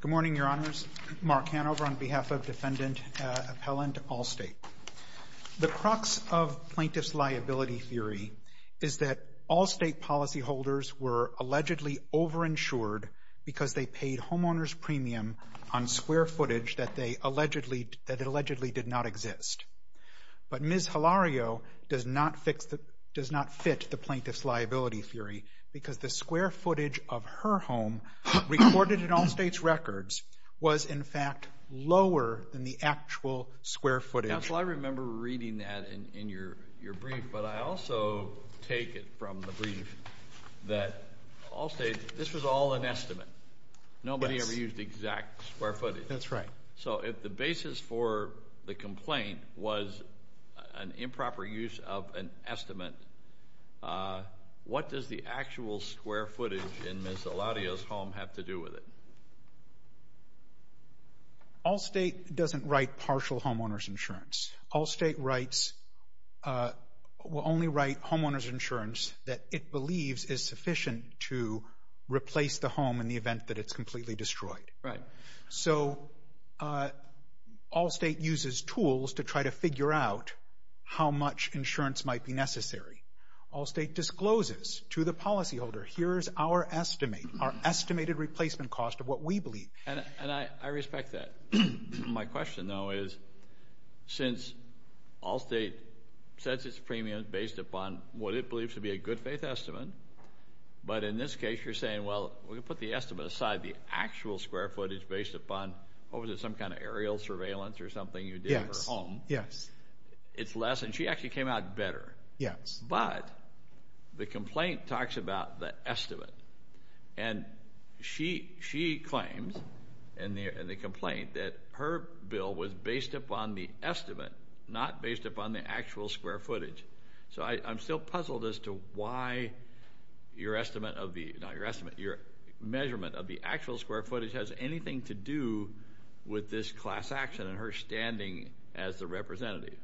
Good morning, Your Honors. Mark Hanover on behalf of Defendant Appellant Allstate. The crux of Plaintiff's Liability Theory is that Allstate policyholders were allegedly over-insured because they paid homeowners' premium on square footage that allegedly did not exist. But Ms. Hilario does not fit the Plaintiff's Liability Theory because the square footage of her home recorded in Allstate's records was in fact lower than the actual square footage. Counsel, I remember reading that in your brief. But I also take it from the brief that Allstate, this was all an estimate. Nobody ever used exact square footage. That's right. So if the basis for the complaint was an improper use of an estimate, what does the actual square footage in Ms. Hilario's home have to do with it? Allstate doesn't write partial homeowners' insurance. Allstate will only write homeowners' insurance that it believes is sufficient to replace the home in the event that it's completely destroyed. Right. So Allstate uses tools to try to figure out how much insurance might be necessary. Allstate discloses to the policyholder, here is our estimate, our estimated replacement cost of what we believe. And I respect that. My question, though, is since Allstate sets its premium based upon what it believes to be a good faith estimate, but in this case you're saying, well, we'll put the estimate aside. The actual square footage based upon, what was it, some kind of aerial surveillance or something you did at her home. Yes. It's less. And she actually came out better. Yes. But the complaint talks about the estimate. And she claims in the complaint that her bill was based upon the estimate, not based upon the actual square footage. So I'm still puzzled as to why your estimate of the, not your estimate, your measurement of the actual square footage has anything to do with this class action and her standing as the representative.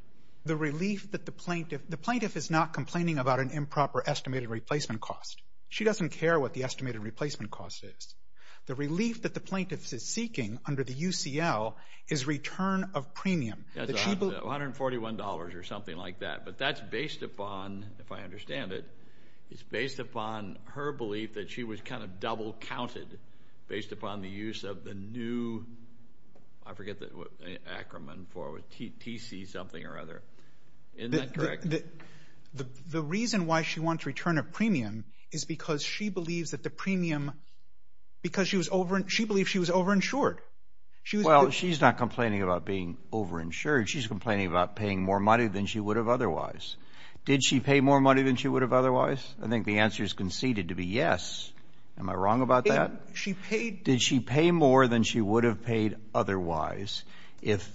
The relief that the plaintiff, the plaintiff is not complaining about an improper estimated replacement cost. She doesn't care what the estimated replacement cost is. The relief that the plaintiff is seeking under the UCL is return of premium. That's $141 or something like that. But that's based upon, if I understand it, it's based upon her belief that she was kind of double counted based upon the use of the new, I forget the acronym for it, TC something or other. Isn't that correct? The reason why she wants return of premium is because she believes that the premium, because she was over, she believed she was over-insured. Well, she's not complaining about being over-insured. She's complaining about paying more money than she would have otherwise. Did she pay more money than she would have otherwise? I think the answer is conceded to be yes. Am I wrong about that? She paid. Did she pay more than she would have paid otherwise? If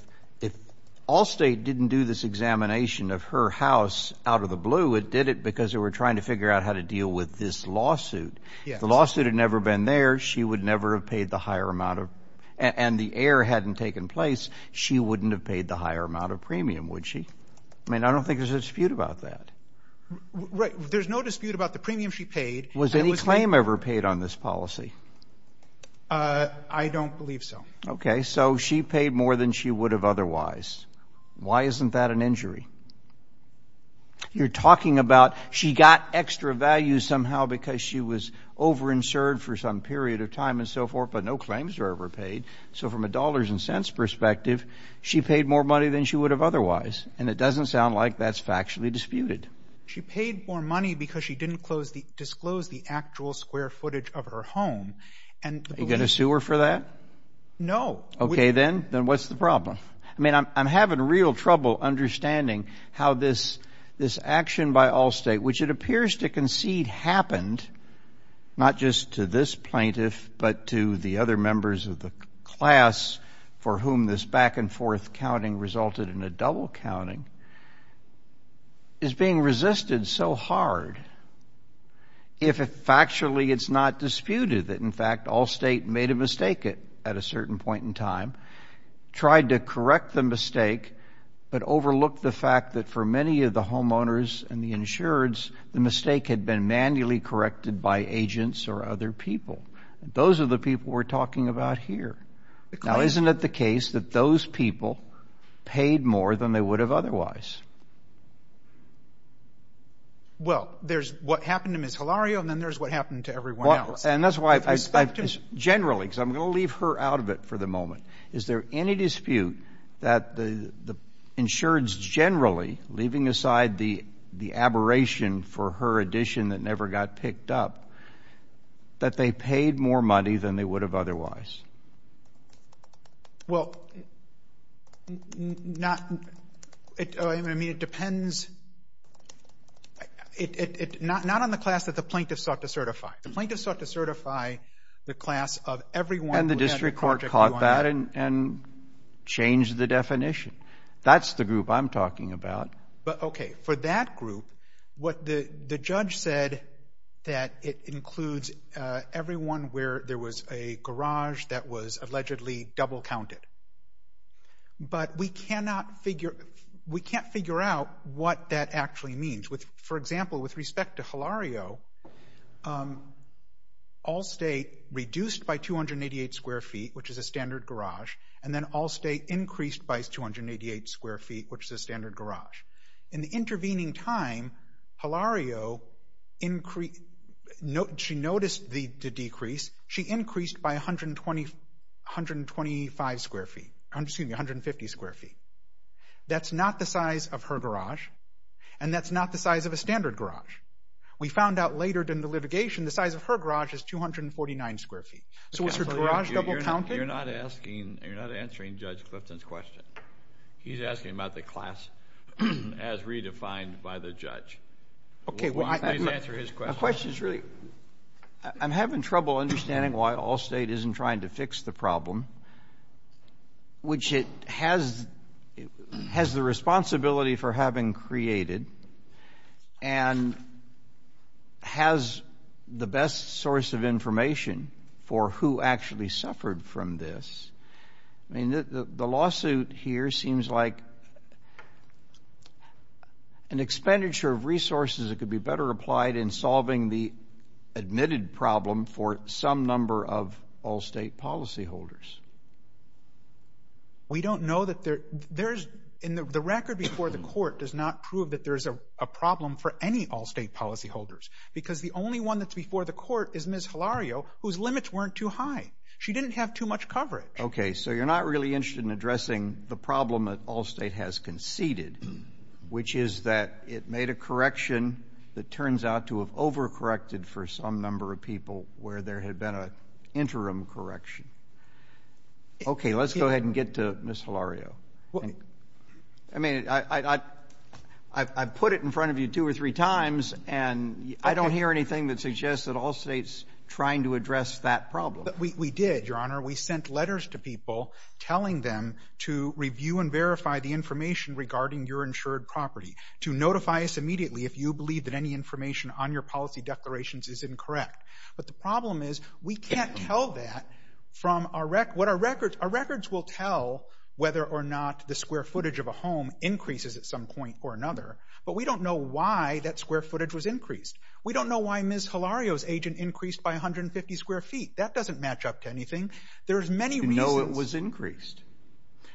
Allstate didn't do this examination of her house out of the blue, it did it because they were trying to figure out how to deal with this lawsuit. If the lawsuit had never been there, she would never have paid the higher amount of, and the error hadn't taken place, she wouldn't have paid the higher amount of premium, would she? I mean, I don't think there's a dispute about that. Right. There's no dispute about the premium she paid. Was any claim ever paid on this policy? I don't believe so. Okay. So she paid more than she would have otherwise. Why isn't that an injury? You're talking about she got extra value somehow because she was overinsured for some period of time and so forth, but no claims were ever paid. So from a dollars and cents perspective, she paid more money than she would have otherwise. And it doesn't sound like that's factually disputed. She paid more money because she didn't disclose the actual square footage of her home. Are you going to sue her for that? No. Okay, then. Then what's the problem? I mean, I'm having real trouble understanding how this action by Allstate, which it appears to concede happened not just to this plaintiff but to the other members of the class for whom this back-and-forth counting resulted in a double counting, is being resisted so hard if factually it's not disputed that, in fact, Allstate made a mistake at a certain point in time, tried to correct the mistake but overlooked the fact that for many of the homeowners and the insureds, the mistake had been manually corrected by agents or other people. Those are the people we're talking about here. Now, isn't it the case that those people paid more than they would have otherwise? Well, there's what happened to Ms. Hilario and then there's what happened to everyone else. And that's why I've just generally, because I'm going to leave her out of it for the moment, is there any dispute that the insureds generally, leaving aside the aberration for her addition that never got picked up, that they paid more money than they would have otherwise? Well, not — I mean, it depends — not on the class that the plaintiff sought to certify. The plaintiff sought to certify the class of everyone who had a Project QI. And the district court caught that and changed the definition. That's the group I'm talking about. But, okay, for that group, what the judge said, that it includes everyone where there was a garage that was allegedly double-counted. But we cannot figure out what that actually means. For example, with respect to Hilario, all stay reduced by 288 square feet, which is a standard garage, and then all stay increased by 288 square feet, which is a standard garage. In the intervening time, Hilario, she noticed the decrease. She increased by 125 square feet — excuse me, 150 square feet. That's not the size of her garage, and that's not the size of a standard garage. We found out later in the litigation the size of her garage is 249 square feet. So was her garage double-counted? You're not asking — you're not answering Judge Clifton's question. He's asking about the class as redefined by the judge. Okay, well, I — Please answer his question. My question is really — I'm having trouble understanding why Allstate isn't trying to fix the problem, which it has the responsibility for having created and has the best source of information for who actually suffered from this. I mean, the lawsuit here seems like an expenditure of resources that could be better applied in solving the admitted problem for some number of Allstate policyholders. We don't know that there's — and the record before the court does not prove that there's a problem for any Allstate policyholders because the only one that's before the court is Ms. Hilario, whose limits weren't too high. She didn't have too much coverage. Okay, so you're not really interested in addressing the problem that Allstate has conceded, which is that it made a correction that turns out to have overcorrected for some number of people where there had been an interim correction. Okay, let's go ahead and get to Ms. Hilario. I mean, I've put it in front of you two or three times, and I don't hear anything that suggests that Allstate's trying to address that problem. We did, Your Honor. We sent letters to people telling them to review and verify the information regarding your insured property, to notify us immediately if you believe that any information on your policy declarations is incorrect. But the problem is we can't tell that from our records. Our records will tell whether or not the square footage of a home increases at some point or another, but we don't know why that square footage was increased. We don't know why Ms. Hilario's agent increased by 150 square feet. That doesn't match up to anything. There's many reasons. You know it was increased.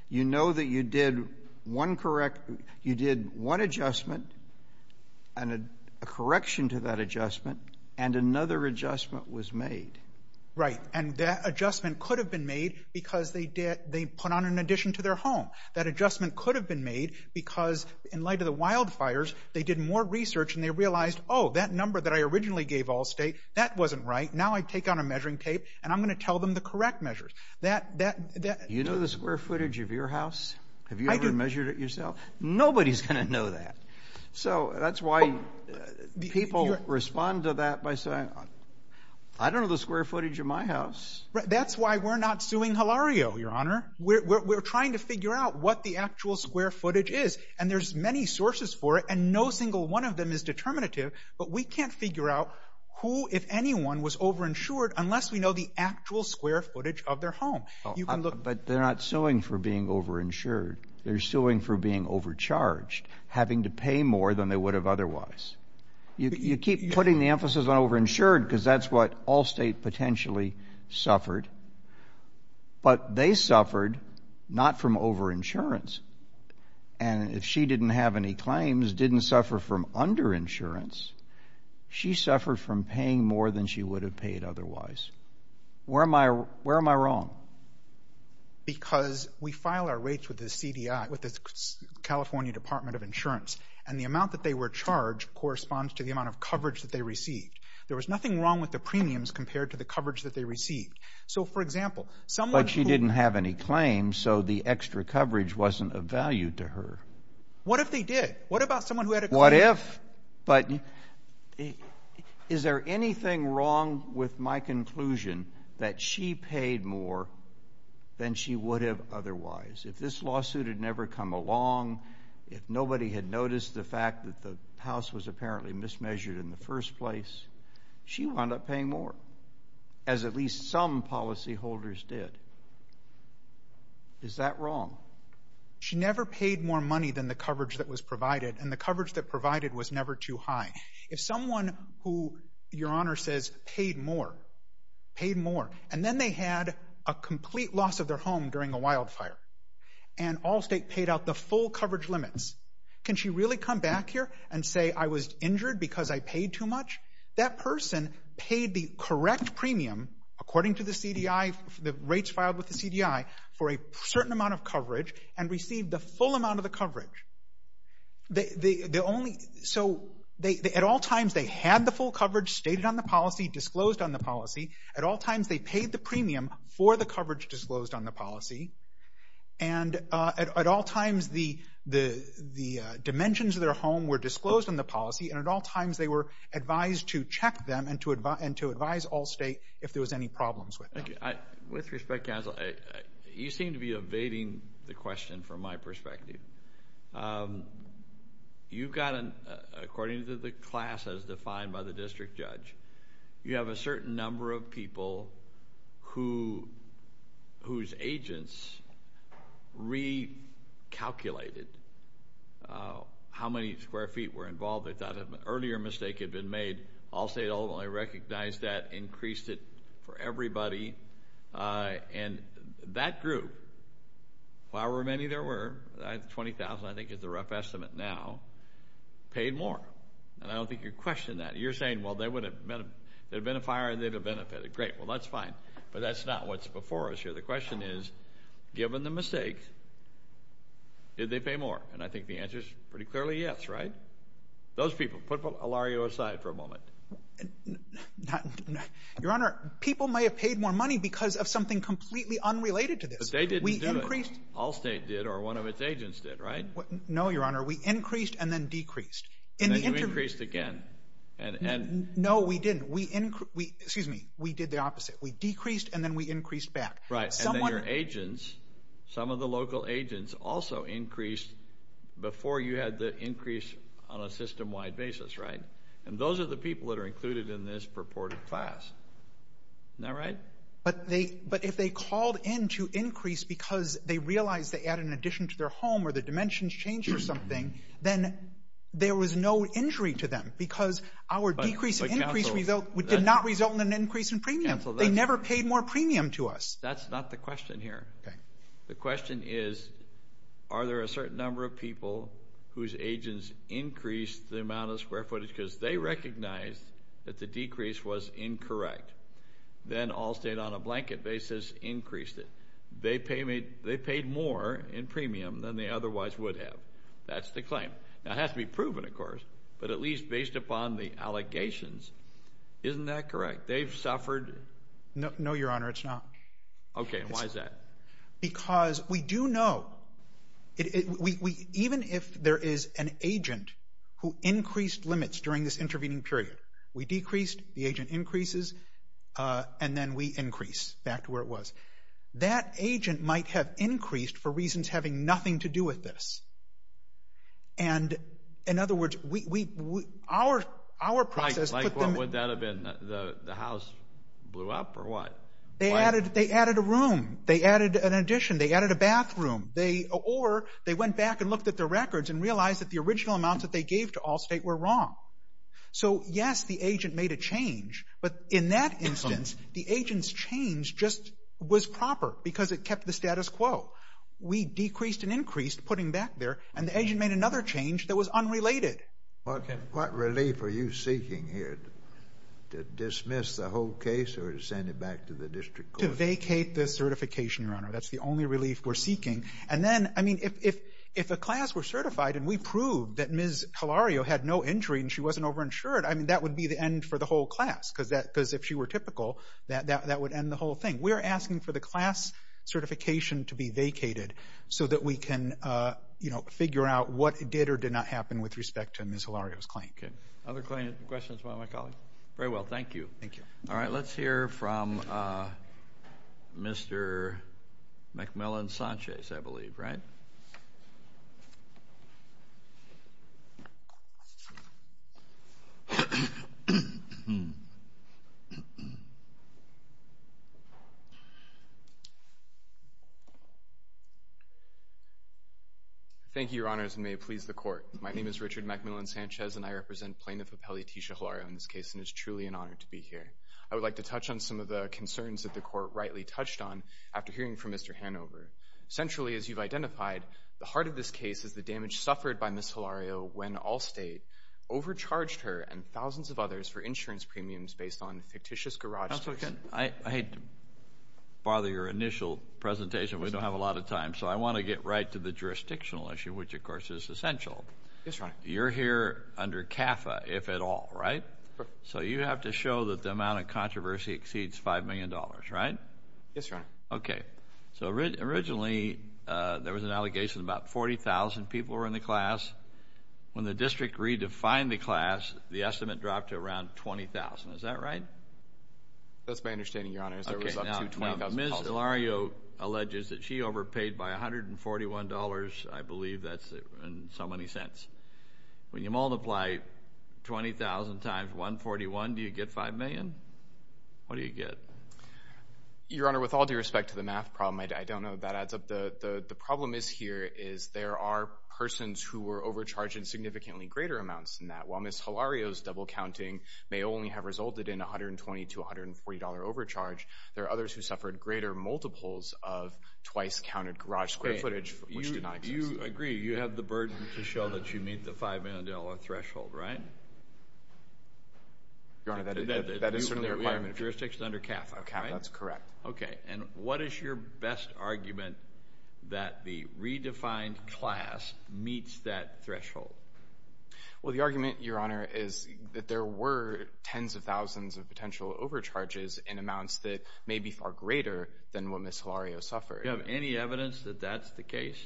You know that you did one adjustment and a correction to that adjustment, and another adjustment was made. Right, and that adjustment could have been made because they put on an addition to their home. That adjustment could have been made because, in light of the wildfires, they did more research and they realized, oh, that number that I originally gave Allstate, that wasn't right. Now I take out a measuring tape and I'm going to tell them the correct measures. You know the square footage of your house? Have you ever measured it yourself? Nobody's going to know that. So that's why people respond to that by saying, I don't know the square footage of my house. That's why we're not suing Hilario, Your Honor. We're trying to figure out what the actual square footage is, and there's many sources for it, and no single one of them is determinative, but we can't figure out who, if anyone, was overinsured unless we know the actual square footage of their home. But they're not suing for being overinsured. They're suing for being overcharged, having to pay more than they would have otherwise. You keep putting the emphasis on overinsured because that's what Allstate potentially suffered, but they suffered not from overinsurance. And if she didn't have any claims, didn't suffer from underinsurance, she suffered from paying more than she would have paid otherwise. Where am I wrong? Because we file our rates with the California Department of Insurance, and the amount that they were charged corresponds to the amount of coverage that they received. There was nothing wrong with the premiums compared to the coverage that they received. But she didn't have any claims, so the extra coverage wasn't of value to her. What if they did? What about someone who had a claim? What if? But is there anything wrong with my conclusion that she paid more than she would have otherwise? If this lawsuit had never come along, if nobody had noticed the fact that the house was apparently mismeasured in the first place, she wound up paying more. As at least some policyholders did. Is that wrong? She never paid more money than the coverage that was provided, and the coverage that provided was never too high. If someone who, Your Honor says, paid more, paid more, and then they had a complete loss of their home during a wildfire, and Allstate paid out the full coverage limits, can she really come back here and say, I was injured because I paid too much? That person paid the correct premium, according to the rates filed with the CDI, for a certain amount of coverage and received the full amount of the coverage. So at all times they had the full coverage stated on the policy, disclosed on the policy. At all times they paid the premium for the coverage disclosed on the policy. And at all times the dimensions of their home were disclosed on the policy, and at all times they were advised to check them and to advise Allstate if there was any problems with them. With respect, counsel, you seem to be evading the question from my perspective. You've got, according to the class as defined by the district judge, you have a certain number of people whose agents recalculated how many square feet were involved. They thought an earlier mistake had been made. Allstate only recognized that, increased it for everybody. And that group, however many there were, 20,000 I think is the rough estimate now, paid more. And I don't think you're questioning that. You're saying, well, there would have been a fire and they would have benefited. Great, well, that's fine. But that's not what's before us here. The question is, given the mistake, did they pay more? And I think the answer is pretty clearly yes, right? Those people. Put Elario aside for a moment. Your Honor, people may have paid more money because of something completely unrelated to this. But they didn't do it. Allstate did or one of its agents did, right? No, Your Honor. We increased and then decreased. And then you increased again. No, we didn't. We did the opposite. We decreased and then we increased back. Right. And then your agents, some of the local agents, also increased before you had the increase on a system-wide basis, right? And those are the people that are included in this purported class. Isn't that right? But if they called in to increase because they realized they had an addition to their home or their dimensions changed or something, then there was no injury to them. They never paid more premium to us. That's not the question here. The question is are there a certain number of people whose agents increased the amount of square footage because they recognized that the decrease was incorrect. Then Allstate on a blanket basis increased it. They paid more in premium than they otherwise would have. That's the claim. Now, it has to be proven, of course. But at least based upon the allegations, isn't that correct? They've suffered. No, Your Honor, it's not. Okay. And why is that? Because we do know, even if there is an agent who increased limits during this intervening period, we decreased, the agent increases, and then we increase back to where it was. That agent might have increased for reasons having nothing to do with this. And, in other words, our process put them- Like what would that have been? The house blew up or what? They added a room. They added an addition. They added a bathroom. Or they went back and looked at their records and realized that the original amounts that they gave to Allstate were wrong. So, yes, the agent made a change. But in that instance, the agent's change just was proper because it kept the status quo. We decreased and increased, putting back there, and the agent made another change that was unrelated. Okay. What relief are you seeking here? To dismiss the whole case or to send it back to the district court? To vacate the certification, Your Honor. That's the only relief we're seeking. And then, I mean, if a class were certified and we proved that Ms. Calario had no injury and she wasn't overinsured, I mean, that would be the end for the whole class because if she were typical, that would end the whole thing. We're asking for the class certification to be vacated so that we can, you know, figure out what did or did not happen with respect to Ms. Calario's claim. Okay. Other questions from one of my colleagues? Very well. Thank you. Thank you. All right. Thank you, Your Honors, and may it please the Court. My name is Richard McMillan-Sanchez, and I represent Plaintiff Appellee Tisha Calario in this case, and it's truly an honor to be here. I would like to touch on some of the concerns that the Court rightly touched on after hearing from Mr. Hanover. Centrally, as you've identified, the heart of this case is the damage suffered by Ms. Calario when Allstate overcharged her and thousands of others for insurance premiums based on fictitious garage sales. Counsel, again, I hate to bother your initial presentation. We don't have a lot of time, so I want to get right to the jurisdictional issue, which, of course, is essential. Yes, Your Honor. You're here under CAFA, if at all, right? Correct. So you have to show that the amount of controversy exceeds $5 million, right? Yes, Your Honor. Okay. So originally there was an allegation about 40,000 people were in the class. When the district redefined the class, the estimate dropped to around 20,000. Is that right? That's my understanding, Your Honor. Okay. Now, Ms. Calario alleges that she overpaid by $141. I believe that's in so many cents. When you multiply 20,000 times 141, do you get $5 million? What do you get? Your Honor, with all due respect to the math problem, I don't know if that adds up. The problem is here is there are persons who were overcharged in significantly greater amounts than that. While Ms. Calario's double counting may only have resulted in $120 to $140 overcharge, there are others who suffered greater multiples of twice-counted garage square footage, which did not exist. Do you agree you have the burden to show that you meet the $5 million threshold, right? Your Honor, that is certainly a requirement. Your jurisdiction is under CAFA, right? CAFA, that's correct. Okay. And what is your best argument that the redefined class meets that threshold? Well, the argument, Your Honor, is that there were tens of thousands of potential overcharges in amounts that may be far greater than what Ms. Calario suffered. Do you have any evidence that that's the case?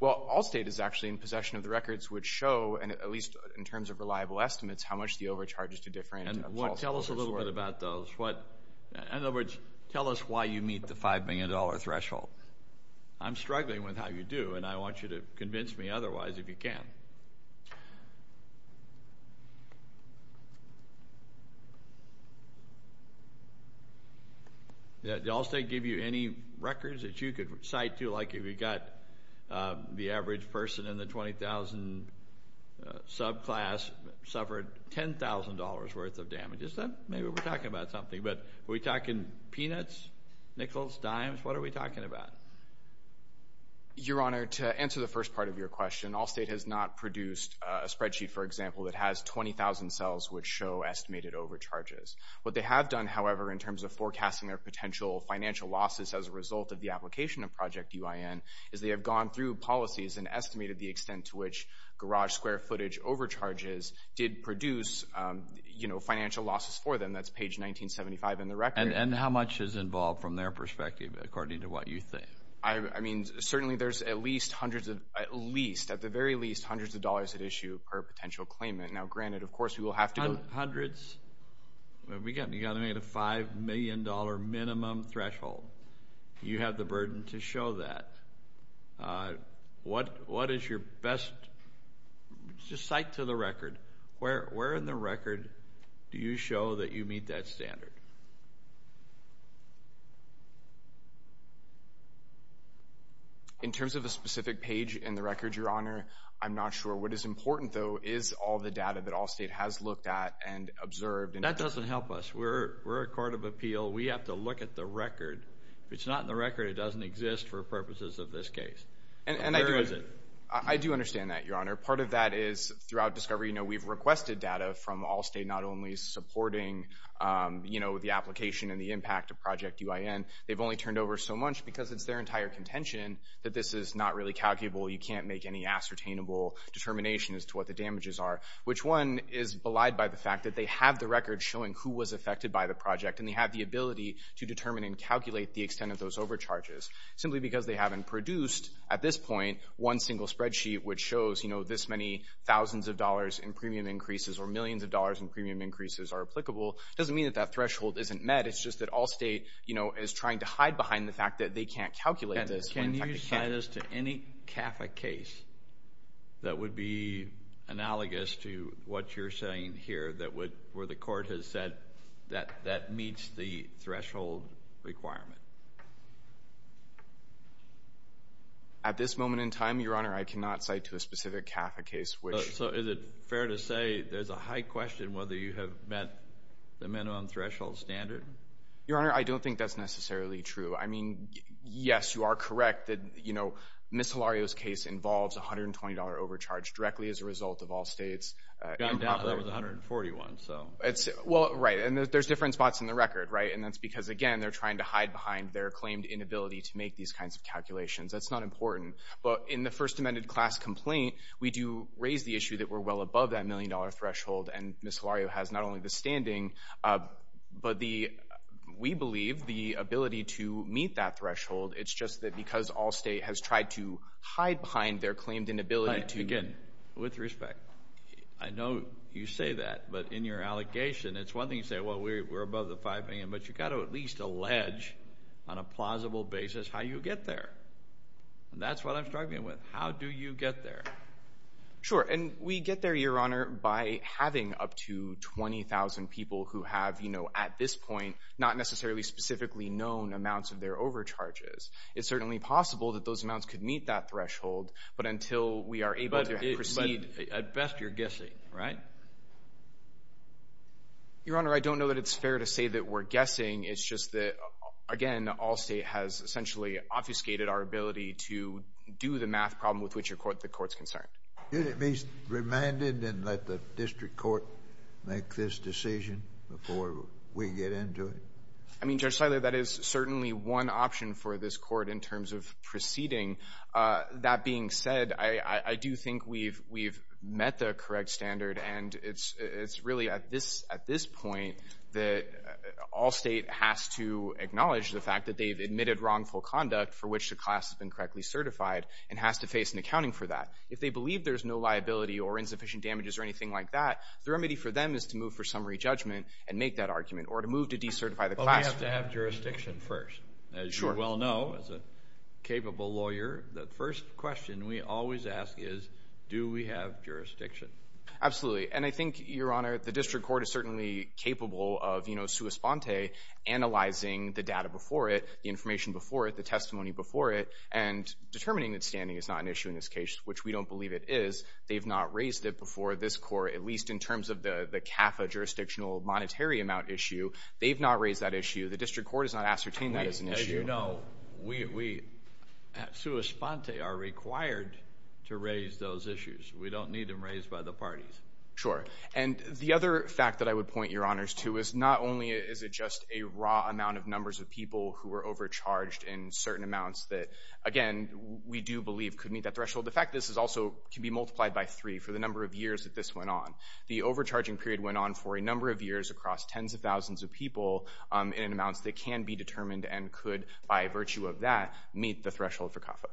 Well, Allstate is actually in possession of the records, which show, at least in terms of reliable estimates, how much the overcharges do differ in false positives. Tell us a little bit about those. In other words, tell us why you meet the $5 million threshold. I'm struggling with how you do, and I want you to convince me otherwise if you can. Did Allstate give you any records that you could cite, too, like if you've got the average person in the $20,000 subclass suffered $10,000 worth of damages? Maybe we're talking about something, but are we talking peanuts, nickels, dimes? What are we talking about? Your Honor, to answer the first part of your question, Allstate has not produced a spreadsheet, for example, that has 20,000 cells which show estimated overcharges. What they have done, however, in terms of forecasting their potential financial losses as a result of the application of Project UIN is they have gone through policies and estimated the extent to which garage square footage overcharges did produce financial losses for them. That's page 1975 in the record. And how much is involved from their perspective, according to what you think? Certainly there's at least, at the very least, hundreds of dollars at issue per potential claimant. Now, granted, of course, we will have to go— Hundreds? You've got to make it a $5 million minimum threshold. You have the burden to show that. What is your best—just cite to the record. Where in the record do you show that you meet that standard? In terms of a specific page in the record, Your Honor, I'm not sure. What is important, though, is all the data that Allstate has looked at and observed. That doesn't help us. We're a court of appeal. We have to look at the record. If it's not in the record, it doesn't exist for purposes of this case. And where is it? I do understand that, Your Honor. Part of that is, throughout discovery, we've requested data from Allstate, not only supporting the application and the impact of Project UIN. They've only turned over so much because it's their entire contention that this is not really calculable. You can't make any ascertainable determination as to what the damages are, which one is belied by the fact that they have the record showing who was affected by the project, and they have the ability to determine and calculate the extent of those overcharges. Simply because they haven't produced, at this point, one single spreadsheet which shows, you know, this many thousands of dollars in premium increases or millions of dollars in premium increases are applicable doesn't mean that that threshold isn't met. It's just that Allstate, you know, is trying to hide behind the fact that they can't calculate this. Can you assign this to any Catholic case that would be analogous to what you're saying here, where the court has said that that meets the threshold requirement? At this moment in time, Your Honor, I cannot cite to a specific Catholic case. So is it fair to say there's a high question whether you have met the minimum threshold standard? Your Honor, I don't think that's necessarily true. I mean, yes, you are correct that, you know, Ms. Hilario's case involves a $120 overcharge directly as a result of Allstate's improper. That was $141, so. Well, right, and there's different spots in the record, right? And that's because, again, they're trying to hide behind their claimed inability to make these kinds of calculations. That's not important. But in the First Amendment class complaint, we do raise the issue that we're well above that million-dollar threshold, and Ms. Hilario has not only the standing, but we believe the ability to meet that threshold. It's just that because Allstate has tried to hide behind their claimed inability to. Again, with respect, I know you say that, but in your allegation, it's one thing to say, well, we're above the $5 million, but you've got to at least allege on a plausible basis how you get there. And that's what I'm struggling with. How do you get there? Sure, and we get there, Your Honor, by having up to 20,000 people who have, you know, at this point, not necessarily specifically known amounts of their overcharges. It's certainly possible that those amounts could meet that threshold, but until we are able to proceed. But at best, you're guessing, right? Your Honor, I don't know that it's fair to say that we're guessing. It's just that, again, Allstate has essentially obfuscated our ability to do the math problem with which the Court's concerned. Did it be remanded and let the district court make this decision before we get into it? I mean, Judge Siler, that is certainly one option for this court in terms of proceeding. That being said, I do think we've met the correct standard, and it's really at this point that Allstate has to acknowledge the fact that they've admitted wrongful conduct for which the class has been correctly certified and has to face an accounting for that. If they believe there's no liability or insufficient damages or anything like that, the remedy for them is to move for summary judgment and make that argument or to move to decertify the class. But we have to have jurisdiction first. As you well know, as a capable lawyer, the first question we always ask is, do we have jurisdiction? Absolutely. And I think, Your Honor, the district court is certainly capable of, you know, sua sponte, analyzing the data before it, the information before it, the testimony before it, and determining that standing is not an issue in this case, which we don't believe it is. They've not raised it before this court, at least in terms of the CAFA jurisdictional monetary amount issue. They've not raised that issue. The district court has not ascertained that as an issue. As you know, we, sua sponte, are required to raise those issues. We don't need them raised by the parties. Sure. And the other fact that I would point Your Honors to is not only is it just a raw amount of numbers of people who were overcharged in certain amounts that, again, we do believe could meet that threshold. The fact this is also can be multiplied by three for the number of years that this went on. The overcharging period went on for a number of years across tens of thousands of people in amounts that can be determined and could, by virtue of that, meet the threshold for CAFA.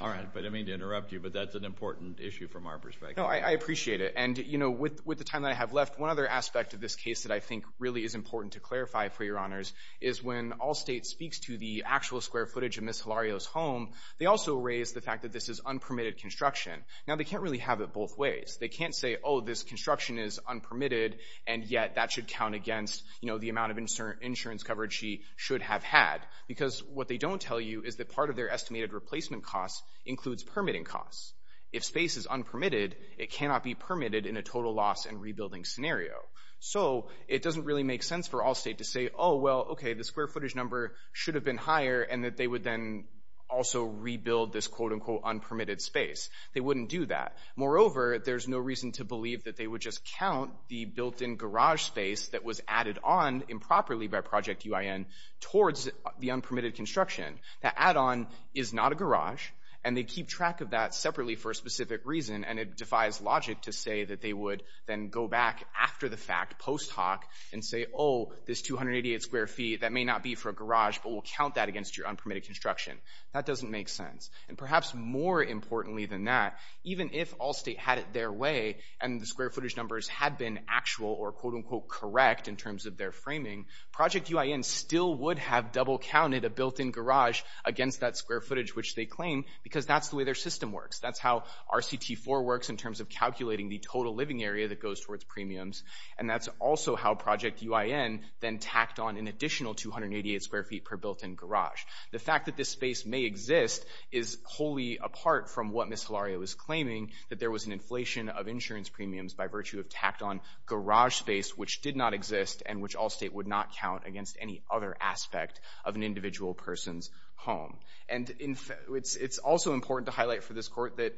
All right. But I didn't mean to interrupt you, but that's an important issue from our perspective. No, I appreciate it. And, you know, with the time that I have left, one other aspect of this case that I think really is important to clarify for Your Honors is when Allstate speaks to the actual square footage of Ms. Hilario's home, they also raise the fact that this is unpermitted construction. Now, they can't really have it both ways. They can't say, oh, this construction is unpermitted, and yet that should count against, you know, the amount of insurance coverage she should have had because what they don't tell you is that part of their estimated replacement costs includes permitting costs. If space is unpermitted, it cannot be permitted in a total loss and rebuilding scenario. So it doesn't really make sense for Allstate to say, oh, well, okay, the square footage number should have been higher and that they would then also rebuild this, quote, unquote, unpermitted space. They wouldn't do that. Moreover, there's no reason to believe that they would just count the built-in garage space that was added on improperly by Project UIN towards the unpermitted construction. That add-on is not a garage, and they keep track of that separately for a specific reason, and it defies logic to say that they would then go back after the fact post hoc and say, oh, this 288 square feet, that may not be for a garage, but we'll count that against your unpermitted construction. That doesn't make sense. And perhaps more importantly than that, even if Allstate had it their way and the square footage numbers had been actual or, quote, unquote, correct in terms of their framing, Project UIN still would have double-counted a built-in garage against that square footage, which they claim because that's the way their system works. That's how RCT4 works in terms of calculating the total living area that goes towards premiums, and that's also how Project UIN then tacked on an additional 288 square feet per built-in garage. The fact that this space may exist is wholly apart from what Ms. Hilario is claiming, that there was an inflation of insurance premiums by virtue of tacked-on garage space, which did not exist and which Allstate would not count against any other aspect of an individual person's home. And it's also important to highlight for this court that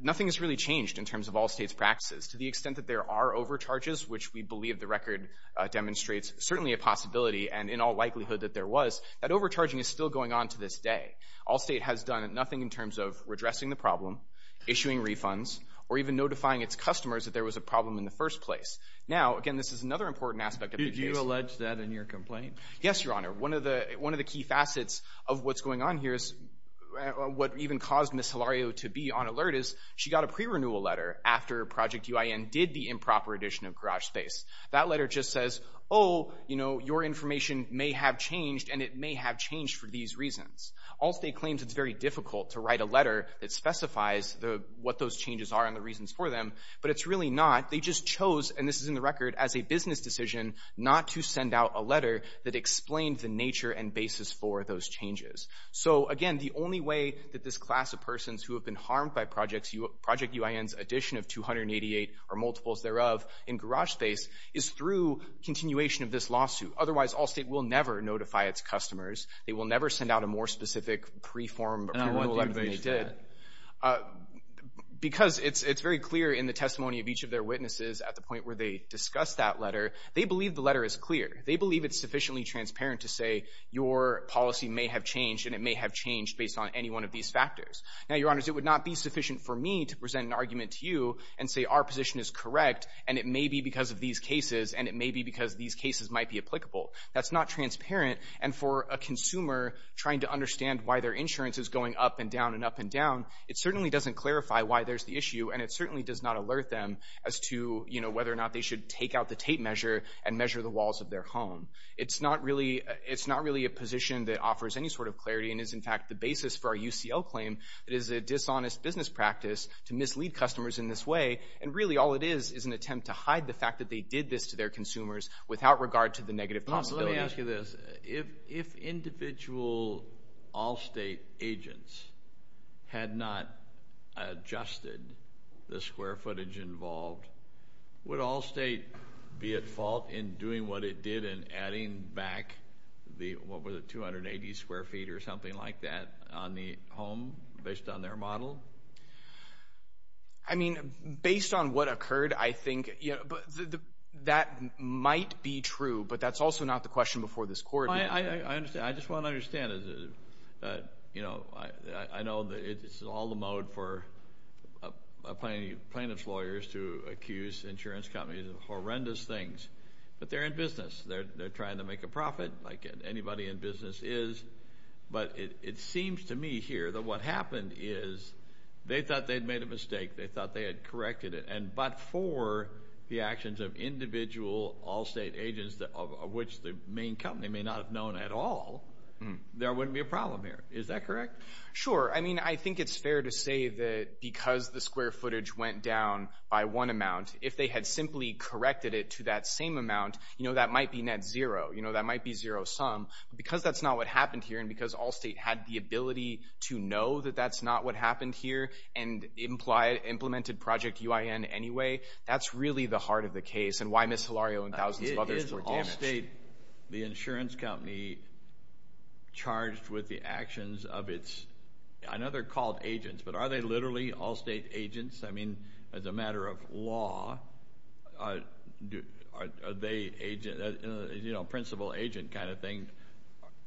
nothing has really changed in terms of Allstate's practices. To the extent that there are overcharges, which we believe the record demonstrates certainly a possibility, and in all likelihood that there was, that overcharging is still going on to this day. Allstate has done nothing in terms of redressing the problem, issuing refunds, or even notifying its customers that there was a problem in the first place. Now, again, this is another important aspect of the case. Did you allege that in your complaint? Yes, Your Honor. One of the key facets of what's going on here is what even caused Ms. Hilario to be on alert is she got a pre-renewal letter after Project UIN did the improper addition of garage space. That letter just says, oh, you know, your information may have changed, and it may have changed for these reasons. Allstate claims it's very difficult to write a letter that specifies what those changes are and the reasons for them, but it's really not. They just chose, and this is in the record, as a business decision not to send out a letter that explained the nature and basis for those changes. So, again, the only way that this class of persons who have been harmed by Project UIN's addition of 288 or multiples thereof in garage space is through continuation of this lawsuit. Otherwise, Allstate will never notify its customers. They will never send out a more specific pre-renewal letter than they did. Because it's very clear in the testimony of each of their witnesses at the point where they discussed that letter, they believe the letter is clear. They believe it's sufficiently transparent to say your policy may have changed, and it may have changed based on any one of these factors. Now, Your Honors, it would not be sufficient for me to present an argument to you and say our position is correct, and it may be because of these cases, and it may be because these cases might be applicable. That's not transparent, and for a consumer trying to understand why their insurance is going up and down and up and down, it certainly doesn't clarify why there's the issue, and it certainly does not alert them as to whether or not they should take out the tape measure and measure the walls of their home. It's not really a position that offers any sort of clarity and is, in fact, the basis for our UCL claim. It is a dishonest business practice to mislead customers in this way, and really all it is is an attempt to hide the fact that they did this to their consumers without regard to the negative possibility. Let me ask you this. If individual Allstate agents had not adjusted the square footage involved, would Allstate be at fault in doing what it did and adding back the, what was it, 280 square feet or something like that on the home based on their model? I mean, based on what occurred, I think that might be true, but that's also not the question before this court. I understand. I just want to understand. I know it's all the mode for plaintiff's lawyers to accuse insurance companies of horrendous things, but they're in business. They're trying to make a profit like anybody in business is, but it seems to me here that what happened is they thought they'd made a mistake. They thought they had corrected it, but for the actions of individual Allstate agents of which the main company may not have known at all, there wouldn't be a problem here. Is that correct? Sure. I mean, I think it's fair to say that because the square footage went down by one amount, if they had simply corrected it to that same amount, that might be net zero. That might be zero sum, but because that's not what happened here and because Allstate had the ability to know that that's not what happened here and implemented Project UIN anyway, that's really the heart of the case and why Ms. Hilario and thousands of others were damaged. Is Allstate the insurance company charged with the actions of its, I know they're called agents, but are they literally Allstate agents? I mean, as a matter of law, are they principal agent kind of thing?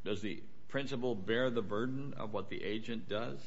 Does the principal bear the burden of what the agent does?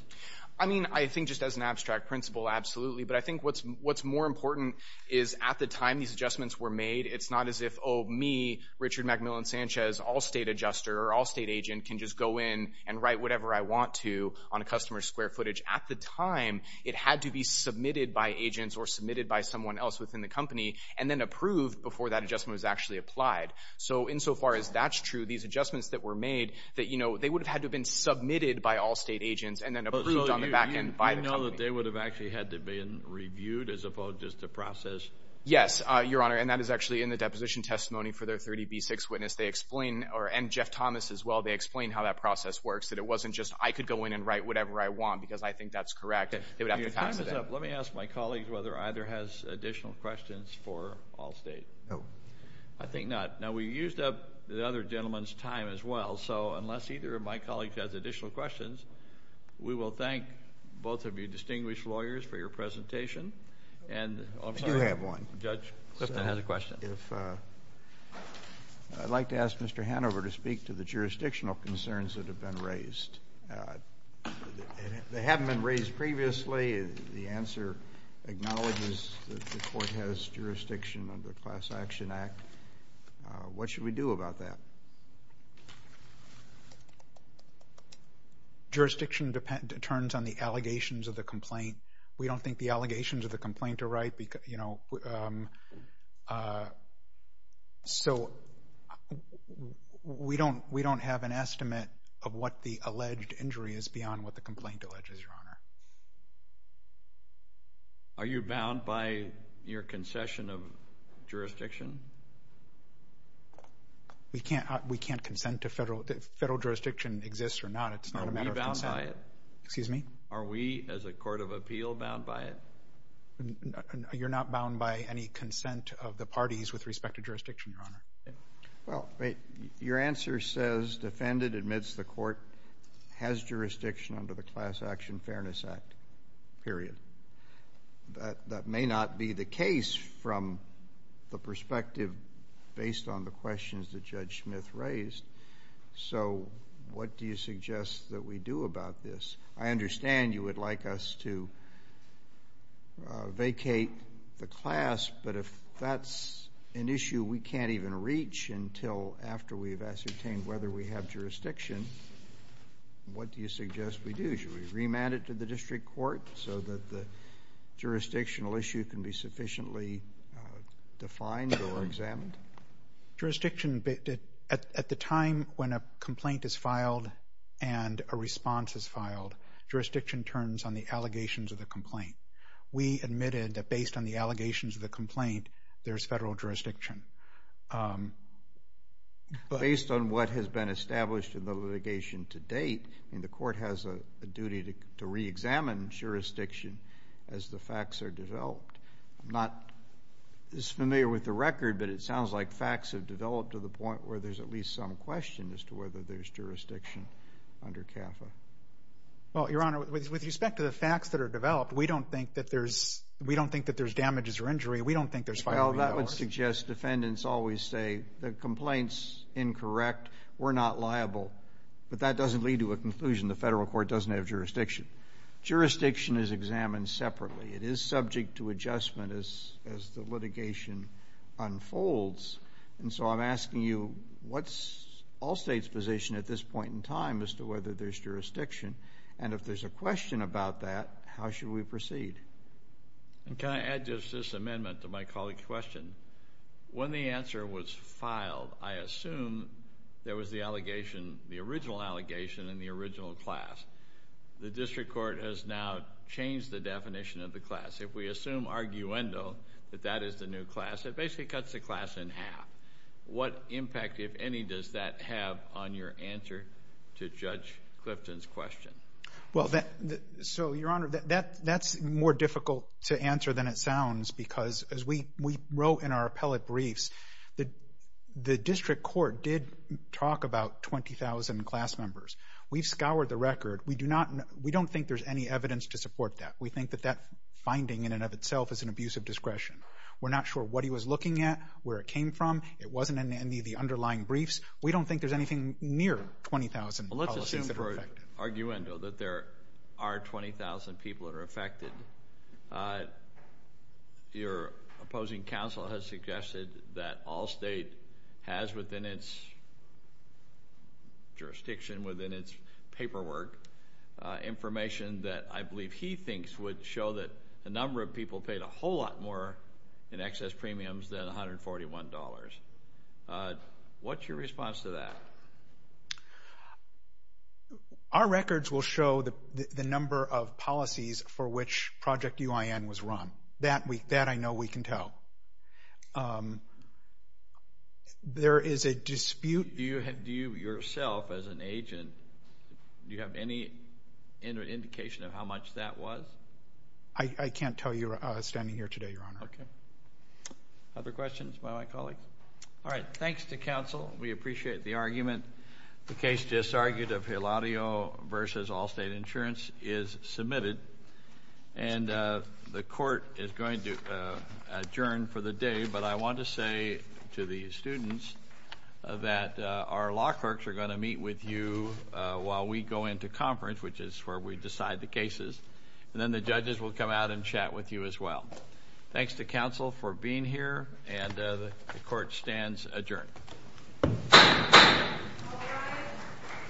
I mean, I think just as an abstract principal, absolutely, but I think what's more important is at the time these adjustments were made, it's not as if, oh, me, Richard McMillan Sanchez, Allstate adjuster or Allstate agent, can just go in and write whatever I want to on a customer's square footage. At the time, it had to be submitted by agents or submitted by someone else within the company and then approved before that adjustment was actually applied. So insofar as that's true, these adjustments that were made, they would have had to have been submitted by Allstate agents and then approved on the back end by the company. So they would have actually had to have been reviewed as opposed to just a process? Yes, Your Honor, and that is actually in the deposition testimony for their 30B6 witness. They explain, and Jeff Thomas as well, they explain how that process works, that it wasn't just I could go in and write whatever I want because I think that's correct. Let me ask my colleagues whether either has additional questions for Allstate. No. I think not. Now, we used up the other gentleman's time as well, so unless either of my colleagues has additional questions, we will thank both of you distinguished lawyers for your presentation. I do have one. Judge Clifton has a question. I'd like to ask Mr. Hanover to speak to the jurisdictional concerns that have been raised. They haven't been raised previously. The answer acknowledges that the court has jurisdiction under the Class Action Act. What should we do about that? Jurisdiction depends on the allegations of the complaint. We don't think the allegations of the complaint are right. So we don't have an estimate of what the alleged injury is beyond what the complaint alleges, Your Honor. Are you bound by your concession of jurisdiction? We can't consent to federal jurisdiction exists or not. It's not a matter of consent. Are we bound by it? Excuse me? Are we, as a court of appeal, bound by it? You're not bound by any consent of the parties with respect to jurisdiction, Your Honor. Well, your answer says defendant admits the court has jurisdiction under the Class Action Fairness Act, period. That may not be the case from the perspective based on the questions that Judge Smith raised. So what do you suggest that we do about this? I understand you would like us to vacate the class, but if that's an issue we can't even reach until after we've ascertained whether we have jurisdiction, what do you suggest we do? Should we remand it to the district court so that the jurisdictional issue can be sufficiently defined or examined? Jurisdiction, at the time when a complaint is filed and a response is filed, jurisdiction turns on the allegations of the complaint. We admitted that based on the allegations of the complaint, there's federal jurisdiction. Based on what has been established in the litigation to date, the court has a duty to reexamine jurisdiction as the facts are developed. I'm not as familiar with the record, but it sounds like facts have developed to the point where there's at least some question as to whether there's jurisdiction under CAFA. Well, Your Honor, with respect to the facts that are developed, we don't think that there's damages or injury. We don't think there's filing. Well, that would suggest defendants always say the complaint's incorrect, we're not liable. But that doesn't lead to a conclusion. The federal court doesn't have jurisdiction. Jurisdiction is examined separately. It is subject to adjustment as the litigation unfolds. And so I'm asking you, what's all states' position at this point in time as to whether there's jurisdiction? And if there's a question about that, how should we proceed? Can I add just this amendment to my colleague's question? When the answer was filed, I assume there was the original allegation in the original class. The district court has now changed the definition of the class. If we assume arguendo that that is the new class, it basically cuts the class in half. What impact, if any, does that have on your answer to Judge Clifton's question? Well, so, Your Honor, that's more difficult to answer than it sounds because as we wrote in our appellate briefs, the district court did talk about 20,000 class members. We've scoured the record. We don't think there's any evidence to support that. We think that that finding in and of itself is an abuse of discretion. We're not sure what he was looking at, where it came from. It wasn't in any of the underlying briefs. We don't think there's anything near 20,000 policies that are affected. Well, let's assume for arguendo that there are 20,000 people that are affected. Your opposing counsel has suggested that all state has within its jurisdiction, within its paperwork, information that I believe he thinks would show that a number of people paid a whole lot more in excess premiums than $141. What's your response to that? Our records will show the number of policies for which Project UIN was run. That I know we can tell. There is a dispute. Do you yourself as an agent, do you have any indication of how much that was? I can't tell you standing here today, Your Honor. Okay. Other questions by my colleagues? All right, thanks to counsel. We appreciate the argument. The case just argued of Giladio v. Allstate Insurance is submitted. And the court is going to adjourn for the day. But I want to say to the students that our law clerks are going to meet with you while we go into conference, which is where we decide the cases. And then the judges will come out and chat with you as well. Thanks to counsel for being here. And the court stands adjourned.